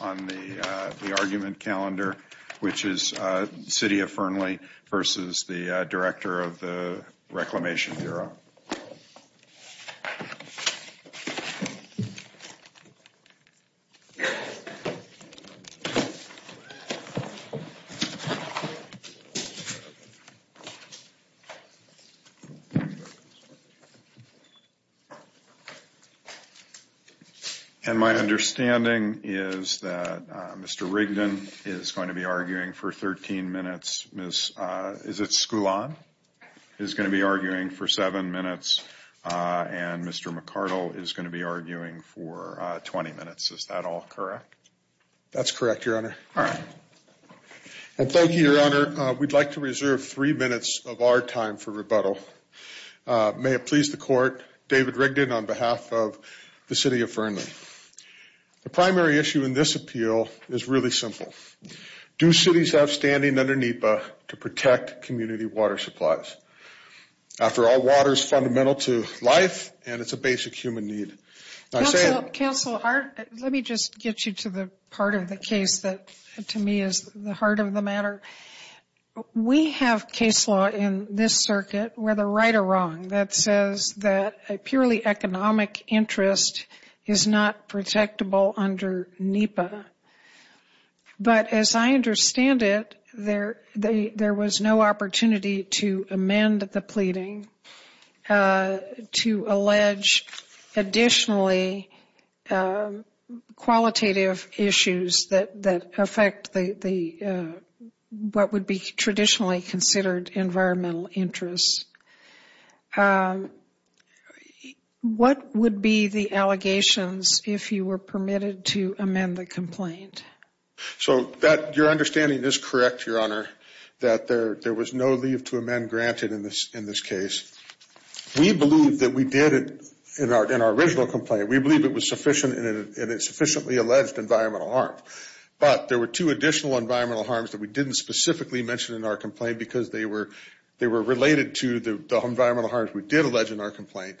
on the argument calendar, which is the City of Fernley versus the Director of the Reclamation Bureau. And my understanding is that Mr. Rigdon is going to be arguing for 13 minutes. Ms. Sculon is going to be arguing for 7 minutes, and Mr. McCardle is going to be arguing for 20 minutes. Is that all correct? That's correct, Your Honor. All right. And thank you, Your Honor. We'd like to reserve three minutes of our time for rebuttal. May it please the Court, David Rigdon on behalf of the City of Fernley. The primary issue in this appeal is really simple. Do cities have standing under NEPA to protect community water supplies? After all, water is fundamental to life, and it's a basic human need. Counsel, let me just get you to the part of the case that, to me, is the heart of the matter. We have case law in this circuit, whether right or wrong, that says that a purely economic interest is not protectable under NEPA. But as I understand it, there was no opportunity to amend the pleading to allege additionally qualitative issues that affect what would be traditionally considered environmental interests. What would be the allegations if you were permitted to amend the complaint? So that, your understanding is correct, Your Honor, that there was no leave to amend granted in this case. We believe that we did it in our original complaint. We believe it was sufficient, and it sufficiently alleged environmental harm. But there were two additional environmental harms that we didn't specifically mention in our complaint because they were related to environmental issues. One was due to the environmental harms we did allege in our complaint,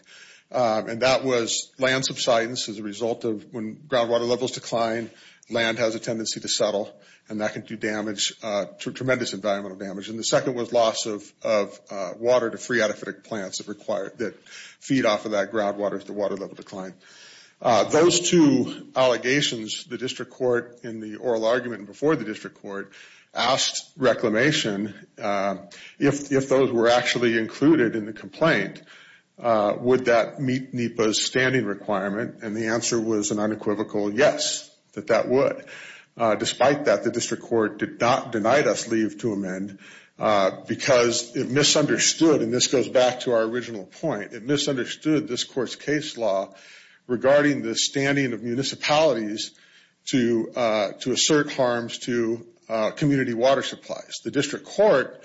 and that was land subsidence as a result of when groundwater levels decline, land has a tendency to settle, and that can do damage, tremendous environmental damage. And the second was loss of water to free-adaptive plants that feed off of that groundwater as the water level declined. Those two allegations, the district court in the oral argument before the district court asked reclamation if those were actually included in the complaint, would that meet NEPA's standing requirement? And the answer was an unequivocal yes, that that would. Despite that, the district court did not deny us leave to amend because it misunderstood, and this goes back to our original point, it misunderstood this court's case law regarding the standing of municipalities to assert harms to community water supplies. The district court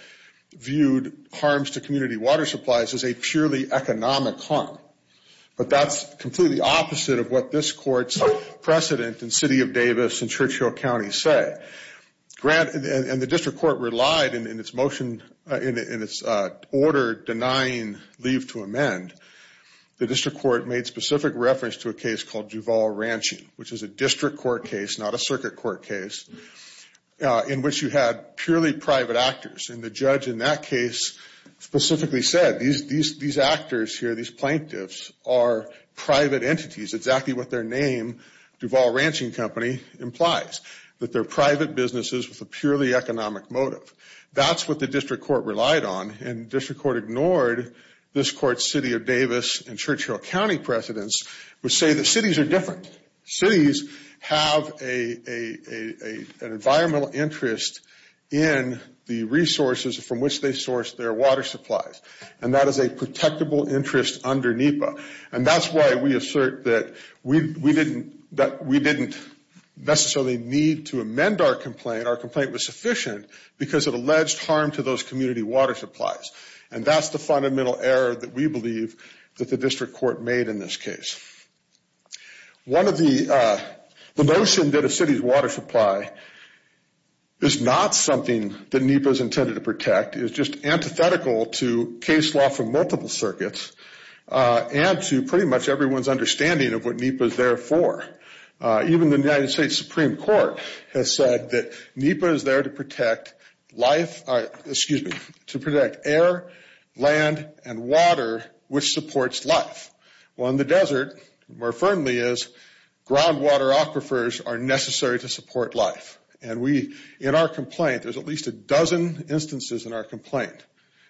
viewed harms to community water supplies as a purely economic harm. But that's completely opposite of what this court's precedent in City of Davis and Churchill County say. And the district court relied in its order denying leave to amend, the district court made specific reference to a case called Duval Ranching, which is a district court case, not a circuit court case, in which you had purely private actors. And the judge in that case specifically said these actors here, these plaintiffs, are private entities, exactly what their name, Duval Ranching Company, implies. That they're private businesses with a purely economic motive. That's what the district court relied on, and the district court ignored this court's City of Davis and Churchill County precedents, which say that cities are different. Cities have an environmental interest in the resources from which they source their water supplies, and that is a protectable interest under NEPA. And that's why we assert that we didn't necessarily need to amend our complaint. Our complaint was sufficient because it alleged harm to those community water supplies. And that's the fundamental error that we believe that the district court made in this case. One of the, the notion that a city's water supply is not something that NEPA is intended to protect is just antithetical to case law for multiple circuits. And to pretty much everyone's understanding of what NEPA is there for. Even the United States Supreme Court has said that NEPA is there to protect life, excuse me, to protect air, land, and water, which supports life. Well, in the desert, more firmly is, groundwater aquifers are necessary to support life. And we, in our complaint, there's at least a dozen instances in our complaint,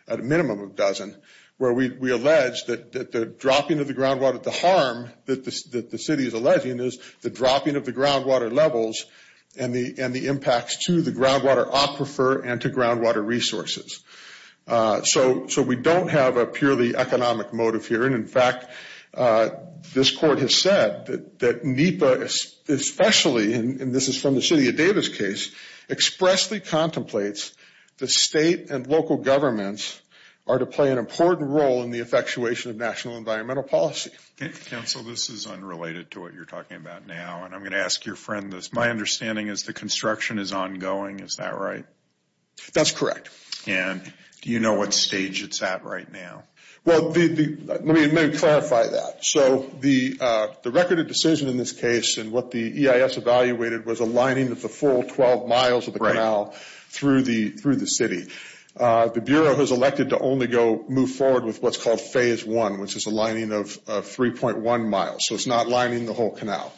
at a minimum of dozen. Where we allege that the dropping of the groundwater, the harm that the city is alleging is the dropping of the groundwater levels and the impacts to the groundwater aquifer and to groundwater resources. So we don't have a purely economic motive here. And in fact, this court has said that NEPA, especially, and this is from the city of Davis case, expressly contemplates the state and local governments are to play an important role in the effectuation of national environmental policy. Counsel, this is unrelated to what you're talking about now. And I'm going to ask your friend this. My understanding is the construction is ongoing. Is that right? That's correct. And do you know what stage it's at right now? Well, let me clarify that. So the record of decision in this case and what the EIS evaluated was a lining of the full 12 miles of the canal through the city. The Bureau has elected to only go move forward with what's called phase one, which is a lining of 3.1 miles. So it's not lining the whole canal.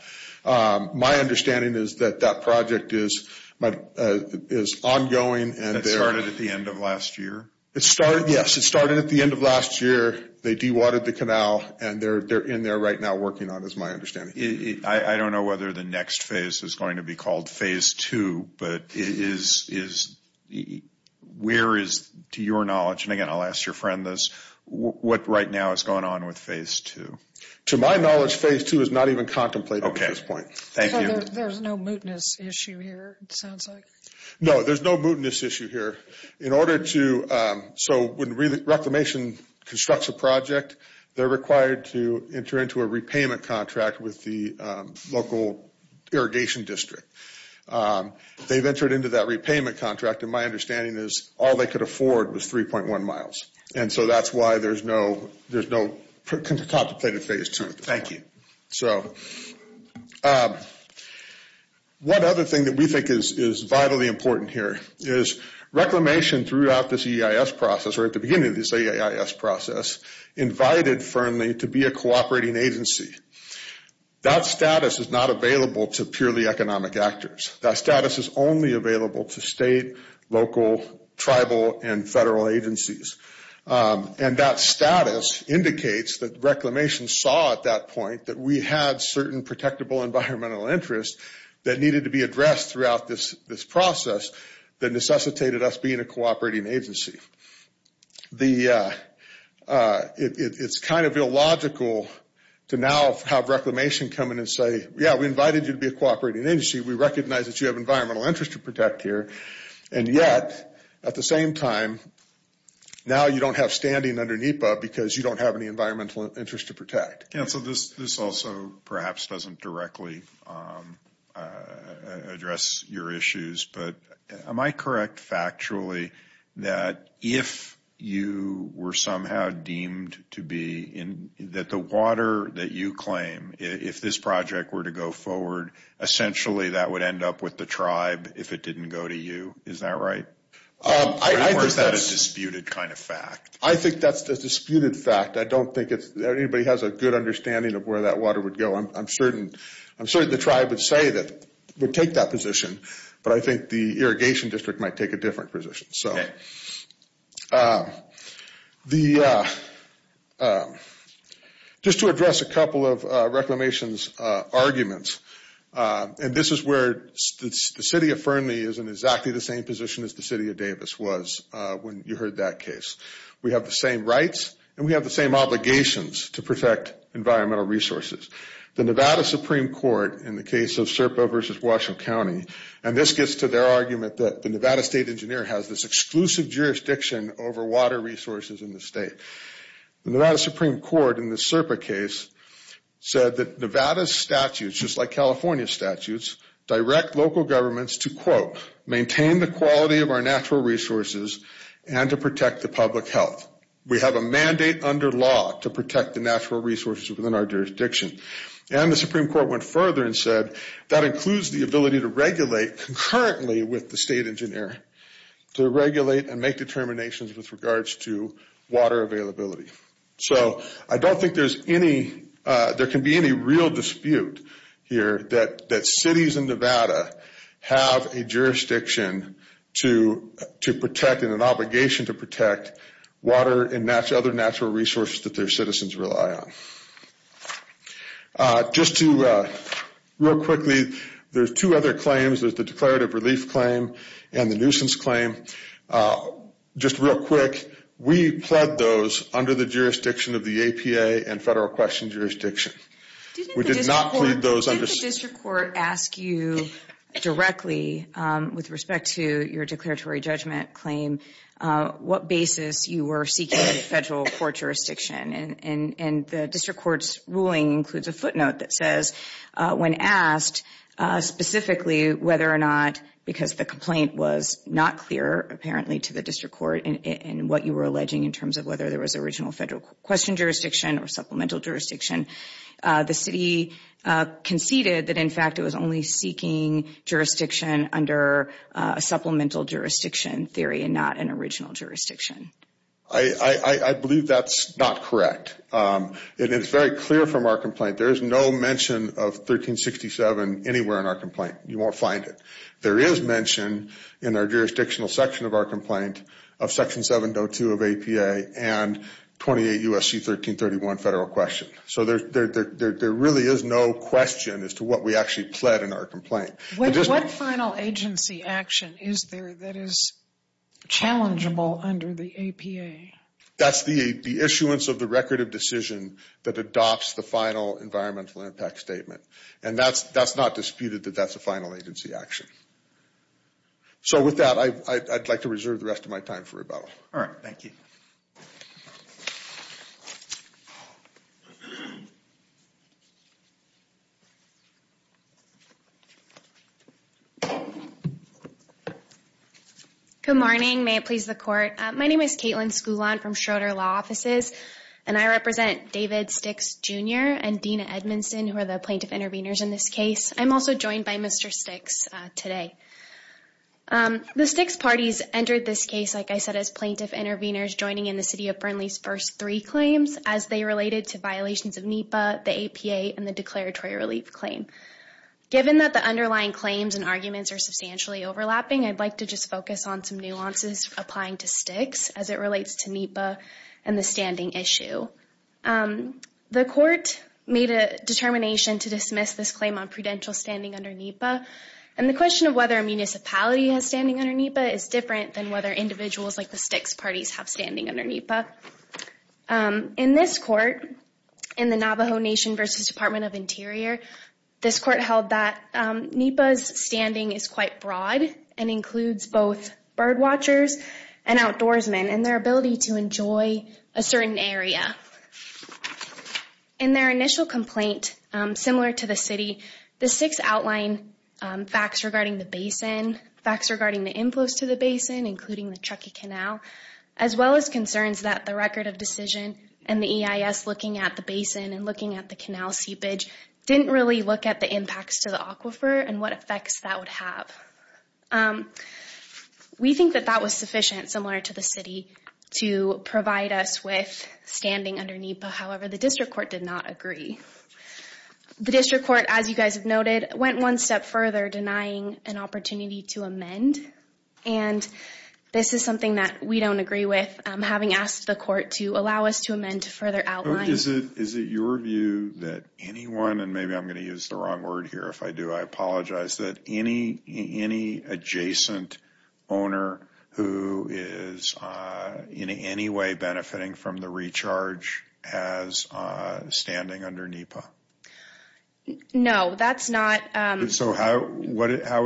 My understanding is that that project is ongoing. And it started at the end of last year? It started. Yes, it started at the end of last year. They dewatered the canal and they're in there right now working on, is my understanding. I don't know whether the next phase is going to be called phase two. But where is, to your knowledge, and again, I'll ask your friend this, what right now is going on with phase two? To my knowledge, phase two is not even contemplated at this point. Thank you. There's no mootness issue here, it sounds like. No, there's no mootness issue here. In order to, so when Reclamation constructs a project, they're required to enter into a repayment contract with the local irrigation district. They've entered into that repayment contract, and my understanding is all they could afford was 3.1 miles. And so that's why there's no contemplated phase two. Thank you. So one other thing that we think is vitally important here is Reclamation throughout this EIS process, or at the beginning of this EIS process, invited Fernley to be a cooperating agency. That status is not available to purely economic actors. That status is only available to state, local, tribal, and federal agencies. And that status indicates that Reclamation saw at that point that we had certain protectable environmental interests that needed to be addressed throughout this process that necessitated us being a cooperating agency. It's kind of illogical to now have Reclamation come in and say, yeah, we invited you to be a cooperating agency, we recognize that you have environmental interest to protect here. And yet, at the same time, now you don't have standing under NEPA because you don't have any environmental interest to protect. Council, this also perhaps doesn't directly address your issues, but am I correct factually that if you were somehow deemed to be in, that the water that you claim, if this project were to go forward, essentially that would end up with the tribe if it didn't go to you? Is that right? Or is that a disputed kind of fact? I think that's a disputed fact. I don't think anybody has a good understanding of where that water would go. I'm certain the tribe would say that, would take that position, but I think the Irrigation District might take a different position. Just to address a couple of Reclamation's arguments, and this is where the City of Fernley is in exactly the same position as the City of Davis was when you heard that case. We have the same rights and we have the same obligations to protect environmental resources. The Nevada Supreme Court in the case of Serpa versus Washington County, and this gets to their argument that the Nevada State Engineer has this exclusive jurisdiction over water resources in the state. The Nevada Supreme Court in the Serpa case said that Nevada statutes, just like California statutes, direct local governments to quote, maintain the quality of our natural resources and to protect the public health. We have a mandate under law to protect the natural resources within our jurisdiction. And the Supreme Court went further and said, that includes the ability to regulate concurrently with the State Engineer, to regulate and make determinations with regards to water availability. So I don't think there's any, there can be any real dispute here that cities in Nevada have a jurisdiction to protect and an obligation to protect water and other natural resources that their citizens rely on. Just to, real quickly, there's two other claims. There's the declarative relief claim and the nuisance claim. Just real quick, we pled those under the jurisdiction of the APA and federal question jurisdiction. We did not plead those under- Didn't the district court ask you directly, with respect to your declaratory judgment claim, what basis you were seeking in a federal court jurisdiction? And the district court's ruling includes a footnote that says, when asked specifically whether or not, because the complaint was not clear, apparently, to the district court in what you were alleging, in terms of whether there was original federal question jurisdiction or supplemental jurisdiction, the city conceded that, in fact, it was only seeking jurisdiction under a supplemental jurisdiction theory and not an original jurisdiction. I believe that's not correct. And it's very clear from our complaint. There is no mention of 1367 anywhere in our complaint. You won't find it. There is mention in our jurisdictional section of our complaint of Section 702 of APA and 28 U.S.C. 1331 federal question. So there really is no question as to what we actually pled in our complaint. What final agency action is there that is challengeable under the APA? That's the issuance of the record of decision that adopts the final environmental impact statement. And that's not disputed that that's a final agency action. So with that, I'd like to reserve the rest of my time for rebuttal. All right. Thank you. Good morning. May it please the court. My name is Katelyn Skulon from Schroeder Law Offices, and I represent David Sticks, Jr. and Dina Edmondson, who are the plaintiff intervenors in this case. I'm also joined by Mr. Sticks today. The Sticks parties entered this case, like I said, as plaintiff intervenors joining in the city of Burnley's first three claims as they related to violations of NEPA, the APA, and the declaratory relief claim. Given that the underlying claims and arguments are substantially overlapping, I'd like to just focus on some nuances applying to Sticks as it relates to NEPA and the standing issue. So the court made a determination to dismiss this claim on prudential standing under NEPA. And the question of whether a municipality has standing under NEPA is different than whether individuals like the Sticks parties have standing under NEPA. In this court, in the Navajo Nation versus Department of Interior, this court held that NEPA's standing is quite broad and includes both birdwatchers and outdoorsmen and their ability to enjoy a certain area. In their initial complaint, similar to the city, the Sticks outlined facts regarding the basin, facts regarding the inflows to the basin, including the Truckee Canal, as well as concerns that the record of decision and the EIS looking at the basin and looking at the canal seepage didn't really look at the impacts to the aquifer and what effects that would have. We think that that was sufficient, similar to the city, to provide us with standing under NEPA. However, the district court did not agree. The district court, as you guys have noted, went one step further denying an opportunity to amend. And this is something that we don't agree with, having asked the court to allow us to amend to further outline. Is it your view that anyone, and maybe I'm going to use the wrong word here if I do, I apologize, that any adjacent owner who is in any way benefiting from the recharge has standing under NEPA? No, that's not... So how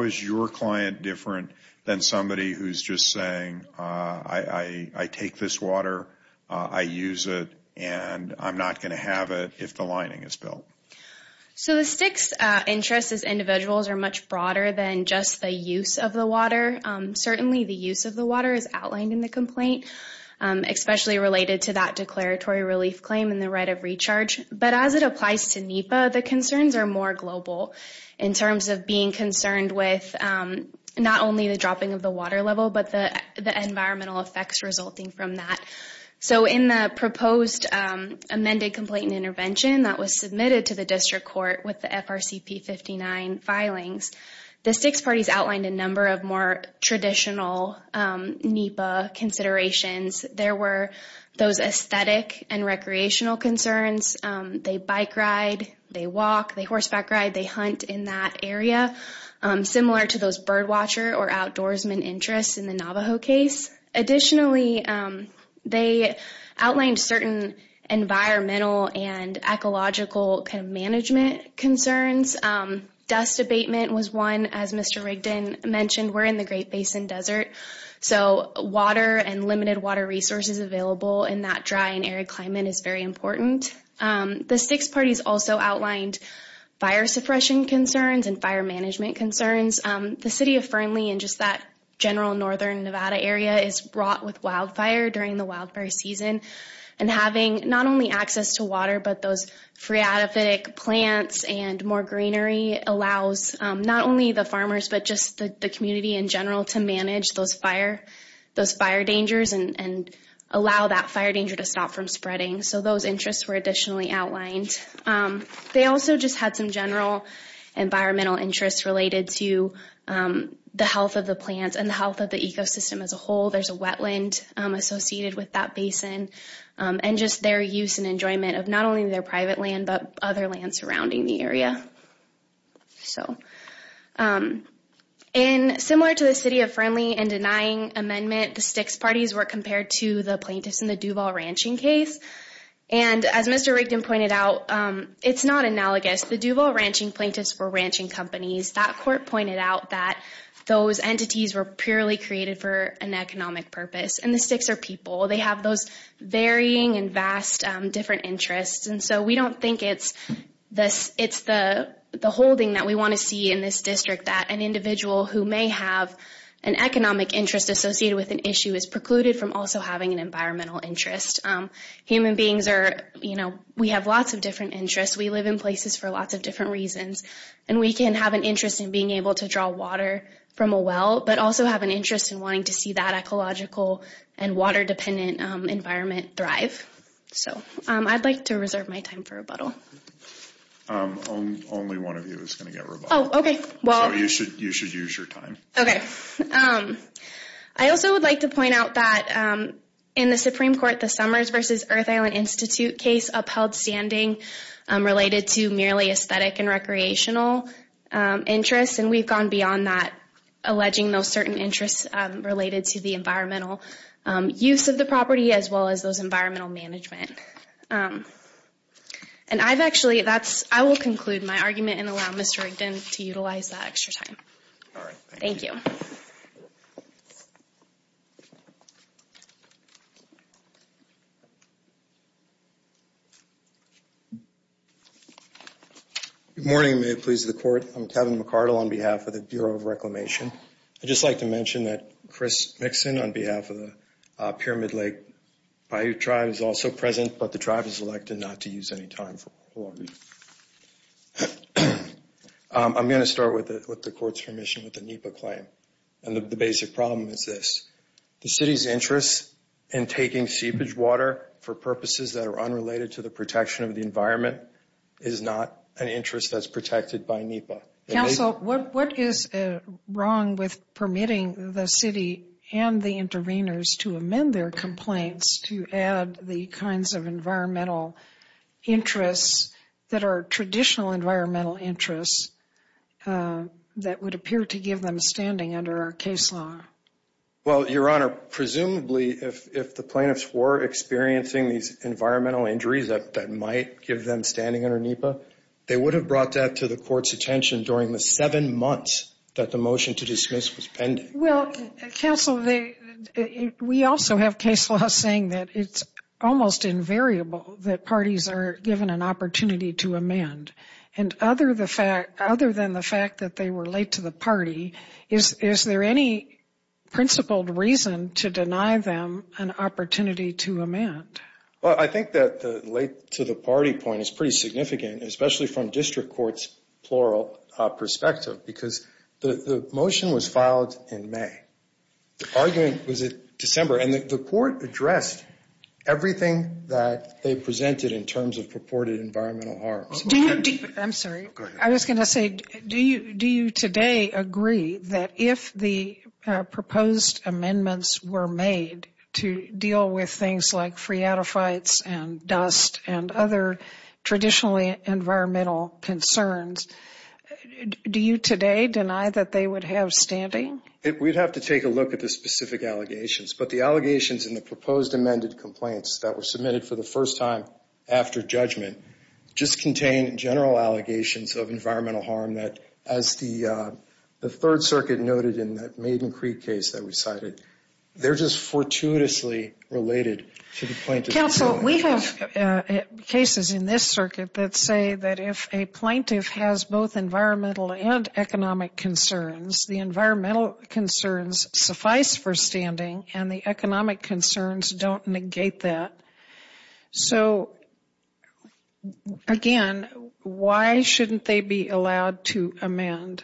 is your client different than somebody who's just saying, I take this water, I use it, and I'm not going to have it if the lining is built? So the STIC's interests as individuals are much broader than just the use of the water. Certainly the use of the water is outlined in the complaint, especially related to that declaratory relief claim and the right of recharge. But as it applies to NEPA, the concerns are more global in terms of being concerned with not only the dropping of the water level, but the environmental effects resulting from that. So in the proposed amended complaint and intervention that was submitted to the district court with the FRCP 59 filings, the STIC's parties outlined a number of more traditional NEPA considerations. There were those aesthetic and recreational concerns. They bike ride, they walk, they horseback ride, they hunt in that area, similar to those bird watcher or outdoorsman interests in the Navajo case. Additionally, they outlined certain environmental and ecological management concerns. Dust abatement was one, as Mr. Rigdon mentioned. We're in the Great Basin Desert, so water and limited water resources available in that dry and arid climate is very important. The STIC's parties also outlined fire suppression concerns and fire management concerns. The city of Fernley and just that general northern Nevada area is wrought with wildfire during the wildfire season. And having not only access to water, but those phreatophytic plants and more greenery allows not only the farmers, but just the community in general to manage those fire dangers and allow that fire danger to stop from spreading. So those interests were additionally outlined. They also just had some general environmental interests related to the health of the plants and the health of the ecosystem as a whole. There's a wetland associated with that basin and just their use and enjoyment of not only their private land, but other lands surrounding the area. And similar to the city of Fernley and denying amendment, the STIC's parties were compared to the plaintiffs in the Duval Ranching case. And as Mr. Rigdon pointed out, it's not analogous. The Duval Ranching plaintiffs were ranching companies. That court pointed out that those entities were purely created for an economic purpose. And the STIC's are people. They have those varying and vast different interests. And so we don't think it's the holding that we want to see in this district that an individual who may have an economic interest associated with an issue is precluded from also having an environmental interest. Human beings are, you know, we have lots of different interests. We live in places for lots of different reasons. And we can have an interest in being able to draw water from a well, but also have an interest in wanting to see that ecological and water-dependent environment thrive. So I'd like to reserve my time for rebuttal. Only one of you is going to get rebuttal. Oh, okay. Well, you should use your time. Okay. Um, I also would like to point out that in the Supreme Court, the Summers versus Earth Island Institute case upheld standing related to merely aesthetic and recreational interests. And we've gone beyond that, alleging those certain interests related to the environmental use of the property, as well as those environmental management. And I've actually, that's, I will conclude my argument and allow Mr. Rigdon to utilize that extra time. Thank you. Thank you. Good morning. May it please the Court. I'm Kevin McCardle on behalf of the Bureau of Reclamation. I'd just like to mention that Chris Mixon on behalf of the Pyramid Lake Bayou Tribe is also present, but the tribe has elected not to use any time for oral argument. I'm going to start with the Court's permission with the NEPA claim. And the basic problem is this. The City's interest in taking seepage water for purposes that are unrelated to the protection of the environment is not an interest that's protected by NEPA. Council, what is wrong with permitting the City and the intervenors to amend their complaints to add the kinds of environmental interests that are traditional environmental interests that would appear to give them standing under our case law? Well, Your Honor, presumably if the plaintiffs were experiencing these environmental injuries that might give them standing under NEPA, they would have brought that to the Court's attention during the seven months that the motion to dismiss was pending. Well, Council, we also have case law saying that it's almost invariable that parties are given an opportunity to amend. And other than the fact that they were late to the party, is there any principled reason to deny them an opportunity to amend? Well, I think that the late to the party point is pretty significant, especially from District Court's plural perspective, because the motion was filed in May. The argument was in December. And the Court addressed everything that they presented in terms of purported environmental harms. I'm sorry. I was going to say, do you today agree that if the proposed amendments were made to deal with things like phreatophytes and dust and other traditionally environmental concerns, do you today deny that they would have standing? We'd have to take a look at the specific allegations. But the allegations in the proposed amended complaints that were submitted for the first time after judgment just contain general allegations of environmental harm that, as the Third Circuit noted in that Maiden Creek case that we cited, they're just fortuitously related to the plaintiff. Council, we have cases in this circuit that say that if a plaintiff has both environmental and economic concerns, the environmental concerns suffice for standing and the economic concerns don't negate that. So, again, why shouldn't they be allowed to amend?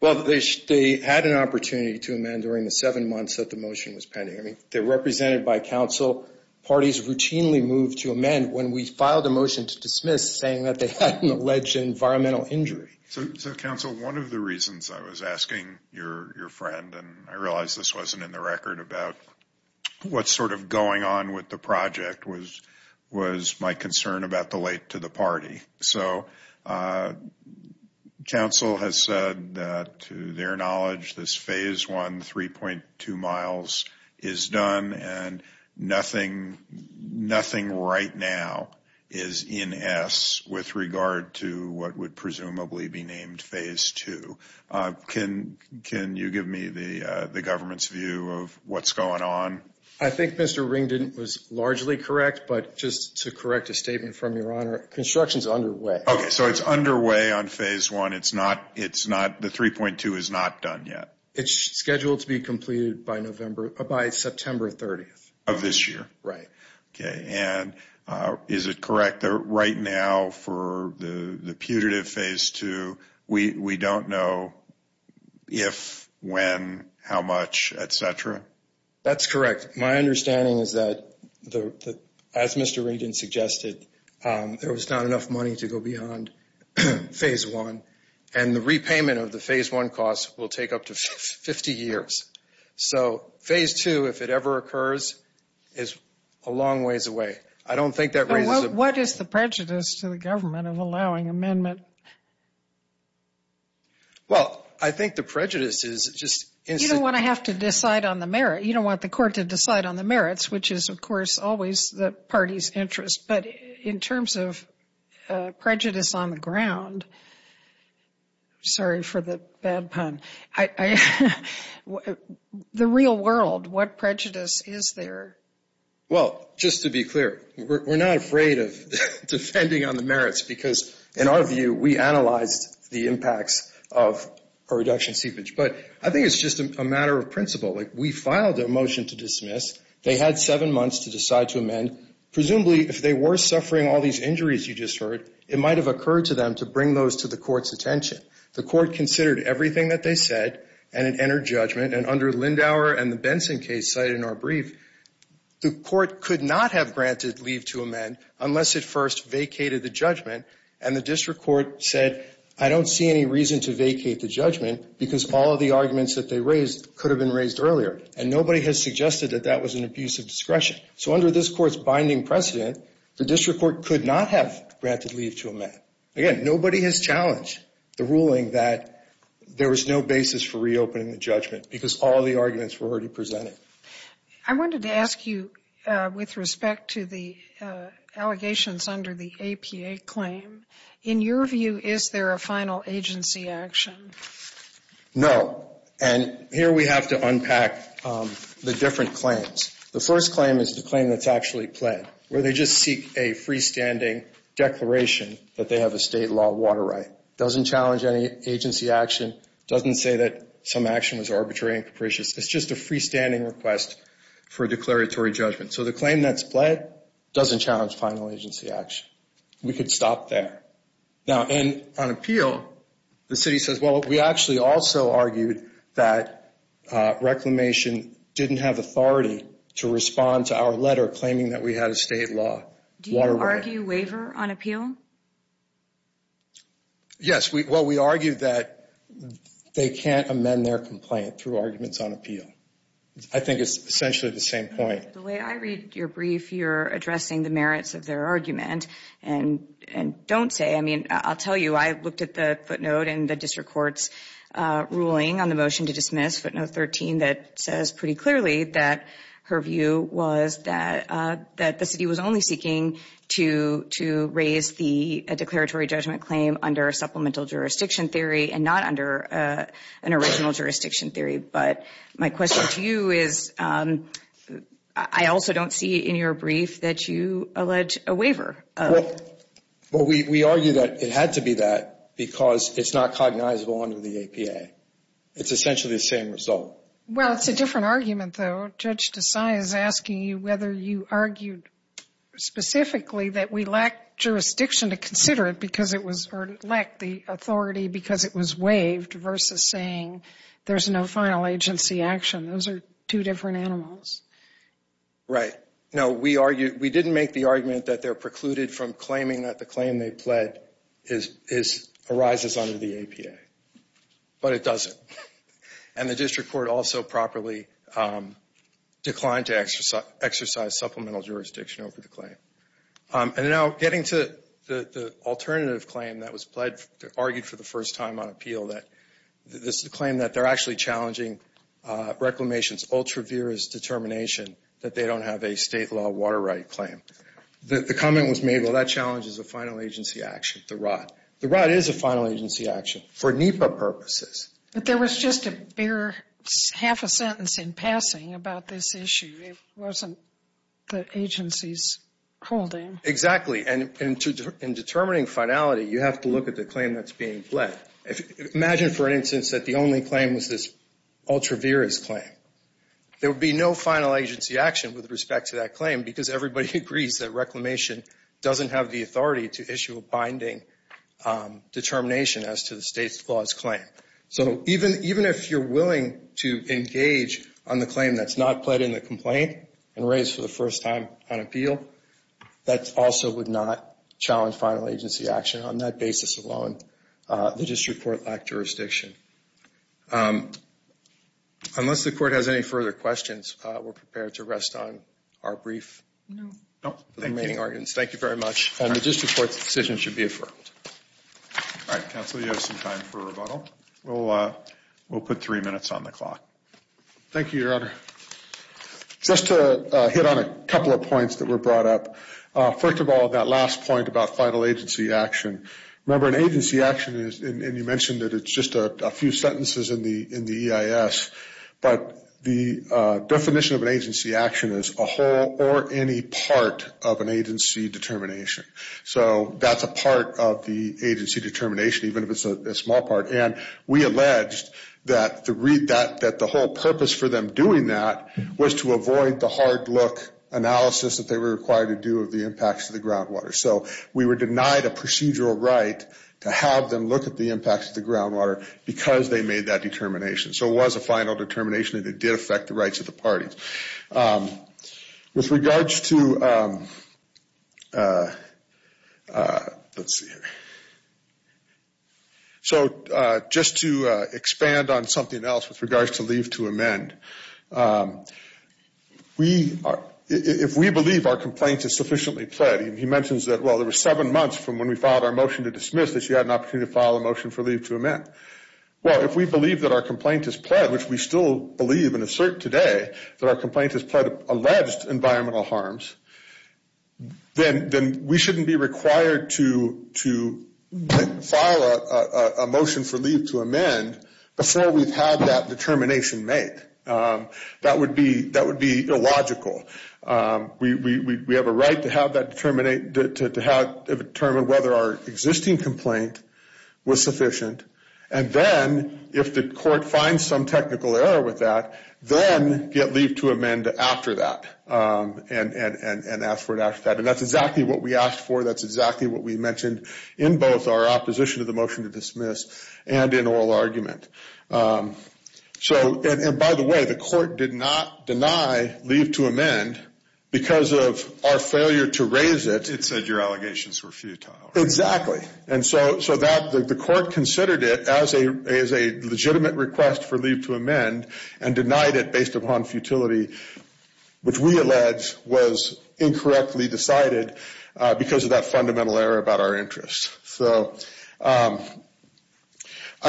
Well, they had an opportunity to amend during the seven months that the motion was pending. I mean, they're represented by Council. Parties routinely move to amend when we filed a motion to dismiss saying that they had an alleged environmental injury. So, Council, one of the reasons I was asking your friend, and I realize this wasn't in the record, about what's sort of going on with the project was my concern about the late to the party. So, Council has said that, to their knowledge, this Phase 1, 3.2 miles is done and nothing right now is in S with regard to what would presumably be named Phase 2. Can you give me the government's view of what's going on? I think Mr. Ring was largely correct, but just to correct a statement from your Honor, construction's underway. Okay, so it's underway on Phase 1. It's not, the 3.2 is not done yet. It's scheduled to be completed by September 30th. Of this year. Right. Okay, and is it correct that right now for the putative Phase 2, we don't know if, when, how much, et cetera? That's correct. My understanding is that, as Mr. Regan suggested, there was not enough money to go beyond Phase 1 and the repayment of the Phase 1 costs will take up to 50 years. So, Phase 2, if it ever occurs, is a long ways away. What is the prejudice to the government of allowing amendment? Well, I think the prejudice is just... You don't want to have to decide on the merit. You don't want the court to decide on the merits, which is, of course, always the party's interest. But in terms of prejudice on the ground, sorry for the bad pun, the real world, what prejudice is there? Well, just to be clear, we're not afraid of defending on the merits because, in our view, we analyzed the impacts of a reduction seepage. But I think it's just a matter of principle. We filed a motion to dismiss. They had seven months to decide to amend. Presumably, if they were suffering all these injuries you just heard, it might have occurred to them to bring those to the court's attention. The court considered everything that they said and it entered judgment. And under Lindauer and the Benson case cited in our brief, the court could not have granted leave to amend unless it first vacated the judgment. And the district court said, I don't see any reason to vacate the judgment because all of the arguments that they raised could have been raised earlier. And nobody has suggested that that was an abuse of discretion. So under this court's binding precedent, the district court could not have granted leave to amend. Again, nobody has challenged the ruling that there was no basis for reopening the judgment because all of the arguments were already presented. I wanted to ask you with respect to the allegations under the APA claim. In your view, is there a final agency action? No. And here we have to unpack the different claims. The first claim is the claim that's actually pled where they just seek a freestanding declaration that they have a state law water right. Doesn't say that some action was arbitrary and capricious. It's just a freestanding request for a declaratory judgment. So the claim that's pled doesn't challenge final agency action. We could stop there. Now, on appeal, the city says, well, we actually also argued that Reclamation didn't have authority to respond to our letter claiming that we had a state law water right. Do you argue waiver on appeal? Yes, well, we argued that they can't amend their complaint through arguments on appeal. I think it's essentially the same point. The way I read your brief, you're addressing the merits of their argument and don't say, I mean, I'll tell you, I looked at the footnote in the district court's ruling on the motion to dismiss footnote 13 that says pretty clearly that her view was that the city was only seeking to raise a declaratory judgment claim under a supplemental jurisdiction theory and not under an original jurisdiction theory. But my question to you is, I also don't see in your brief that you allege a waiver. Well, we argue that it had to be that because it's not cognizable under the APA. It's essentially the same result. Well, it's a different argument, though. Judge Desai is asking you whether you argued specifically that we lacked jurisdiction to consider it because it was, or lacked the authority because it was waived versus saying there's no final agency action. Those are two different animals. Right. No, we argued, we didn't make the argument that they're precluded from claiming that the claim they pled arises under the APA. But it doesn't. And the district court also properly declined to exercise supplemental jurisdiction over the claim. And now getting to the alternative claim that was argued for the first time on appeal that this is a claim that they're actually challenging Reclamation's ultra-virous determination that they don't have a state law water right claim. The comment was made, well, that challenge is a final agency action, the ROT. The ROT is a final agency action for NEPA purposes. But there was just a bigger half a sentence in passing about this issue. It wasn't the agency's holding. Exactly. And in determining finality, you have to look at the claim that's being pled. Imagine, for instance, that the only claim was this ultra-virous claim. There would be no final agency action with respect to that claim because everybody agrees that Reclamation doesn't have the authority to issue a binding determination as to the state's clause claim. So even if you're willing to engage on the claim that's not pled in the complaint and raised for the first time on appeal, that also would not challenge final agency action on that basis alone. The district court lacked jurisdiction. Unless the court has any further questions, we're prepared to rest on our brief. No. No. Remaining arguments. Thank you very much. The district court's decision should be affirmed. All right, counsel, you have some time for rebuttal. We'll put three minutes on the clock. Thank you, Your Honor. Just to hit on a couple of points that were brought up. First of all, that last point about final agency action. Remember, an agency action is, and you mentioned that it's just a few sentences in the EIS, but the definition of an agency action is a whole or any part of an agency determination. So that's a part of the agency determination, even if it's a small part. And we alleged that the whole purpose for them doing that was to avoid the hard look analysis that they were required to do of the impacts to the groundwater. So we were denied a procedural right to have them look at the impacts of the groundwater because they made that determination. So it was a final determination and it did affect the rights of the parties. With regards to, let's see here. So just to expand on something else with regards to leave to amend. We, if we believe our complaints is sufficiently pled, he mentions that, well, there was seven months from when we filed our motion to dismiss that she had an opportunity to file a motion for leave to amend. Well, if we believe that our complaint is pled, which we still believe and assert today, that our complaint has pled alleged environmental harms, then we shouldn't be required to file a motion for leave to amend before we've had that determination made. That would be illogical. We have a right to have that determine whether our existing complaint was sufficient. And then if the court finds some technical error with that, then get leave to amend after that and ask for it after that. And that's exactly what we asked for. That's exactly what we mentioned in both our opposition to the motion to dismiss and in oral argument. So, and by the way, the court did not deny leave to amend because of our failure to raise it. It said your allegations were futile. Exactly. And so that the court considered it as a legitimate request for leave to amend and denied it based upon futility, which we allege was incorrectly decided because of that fundamental error about our interests. So, I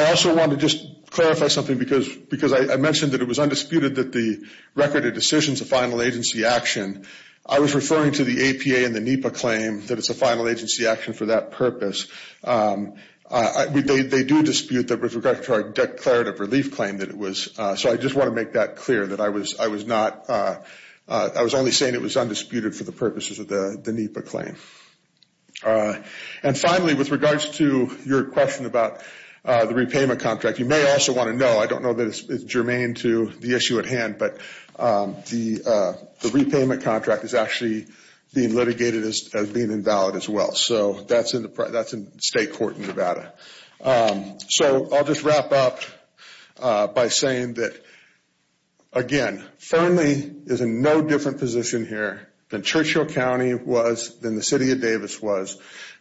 also want to just clarify something because I mentioned that it was undisputed that the record of decision is a final agency action. I was referring to the APA and the NEPA claim that it's a final agency action for that purpose. They do dispute that with regard to our declarative relief claim that it was. So, I just want to make that clear that I was only saying it was undisputed for the purposes of the NEPA claim. And finally, with regards to your question about the repayment contract, you may also want to know, I don't know that it's germane to the issue at hand, but the repayment contract is actually being litigated as being invalid as well. So, that's in state court in Nevada. So, I'll just wrap up by saying that, again, Fernley is in no different position here than Churchill County was, than the city of Davis was.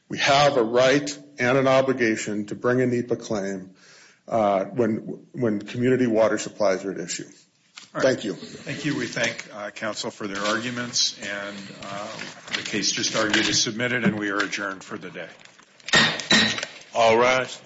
We have a right and an obligation to bring a NEPA claim when community water supplies are at issue. Thank you. Thank you. We thank counsel for their arguments and the case just argued is submitted and we are adjourned for the day. All rise.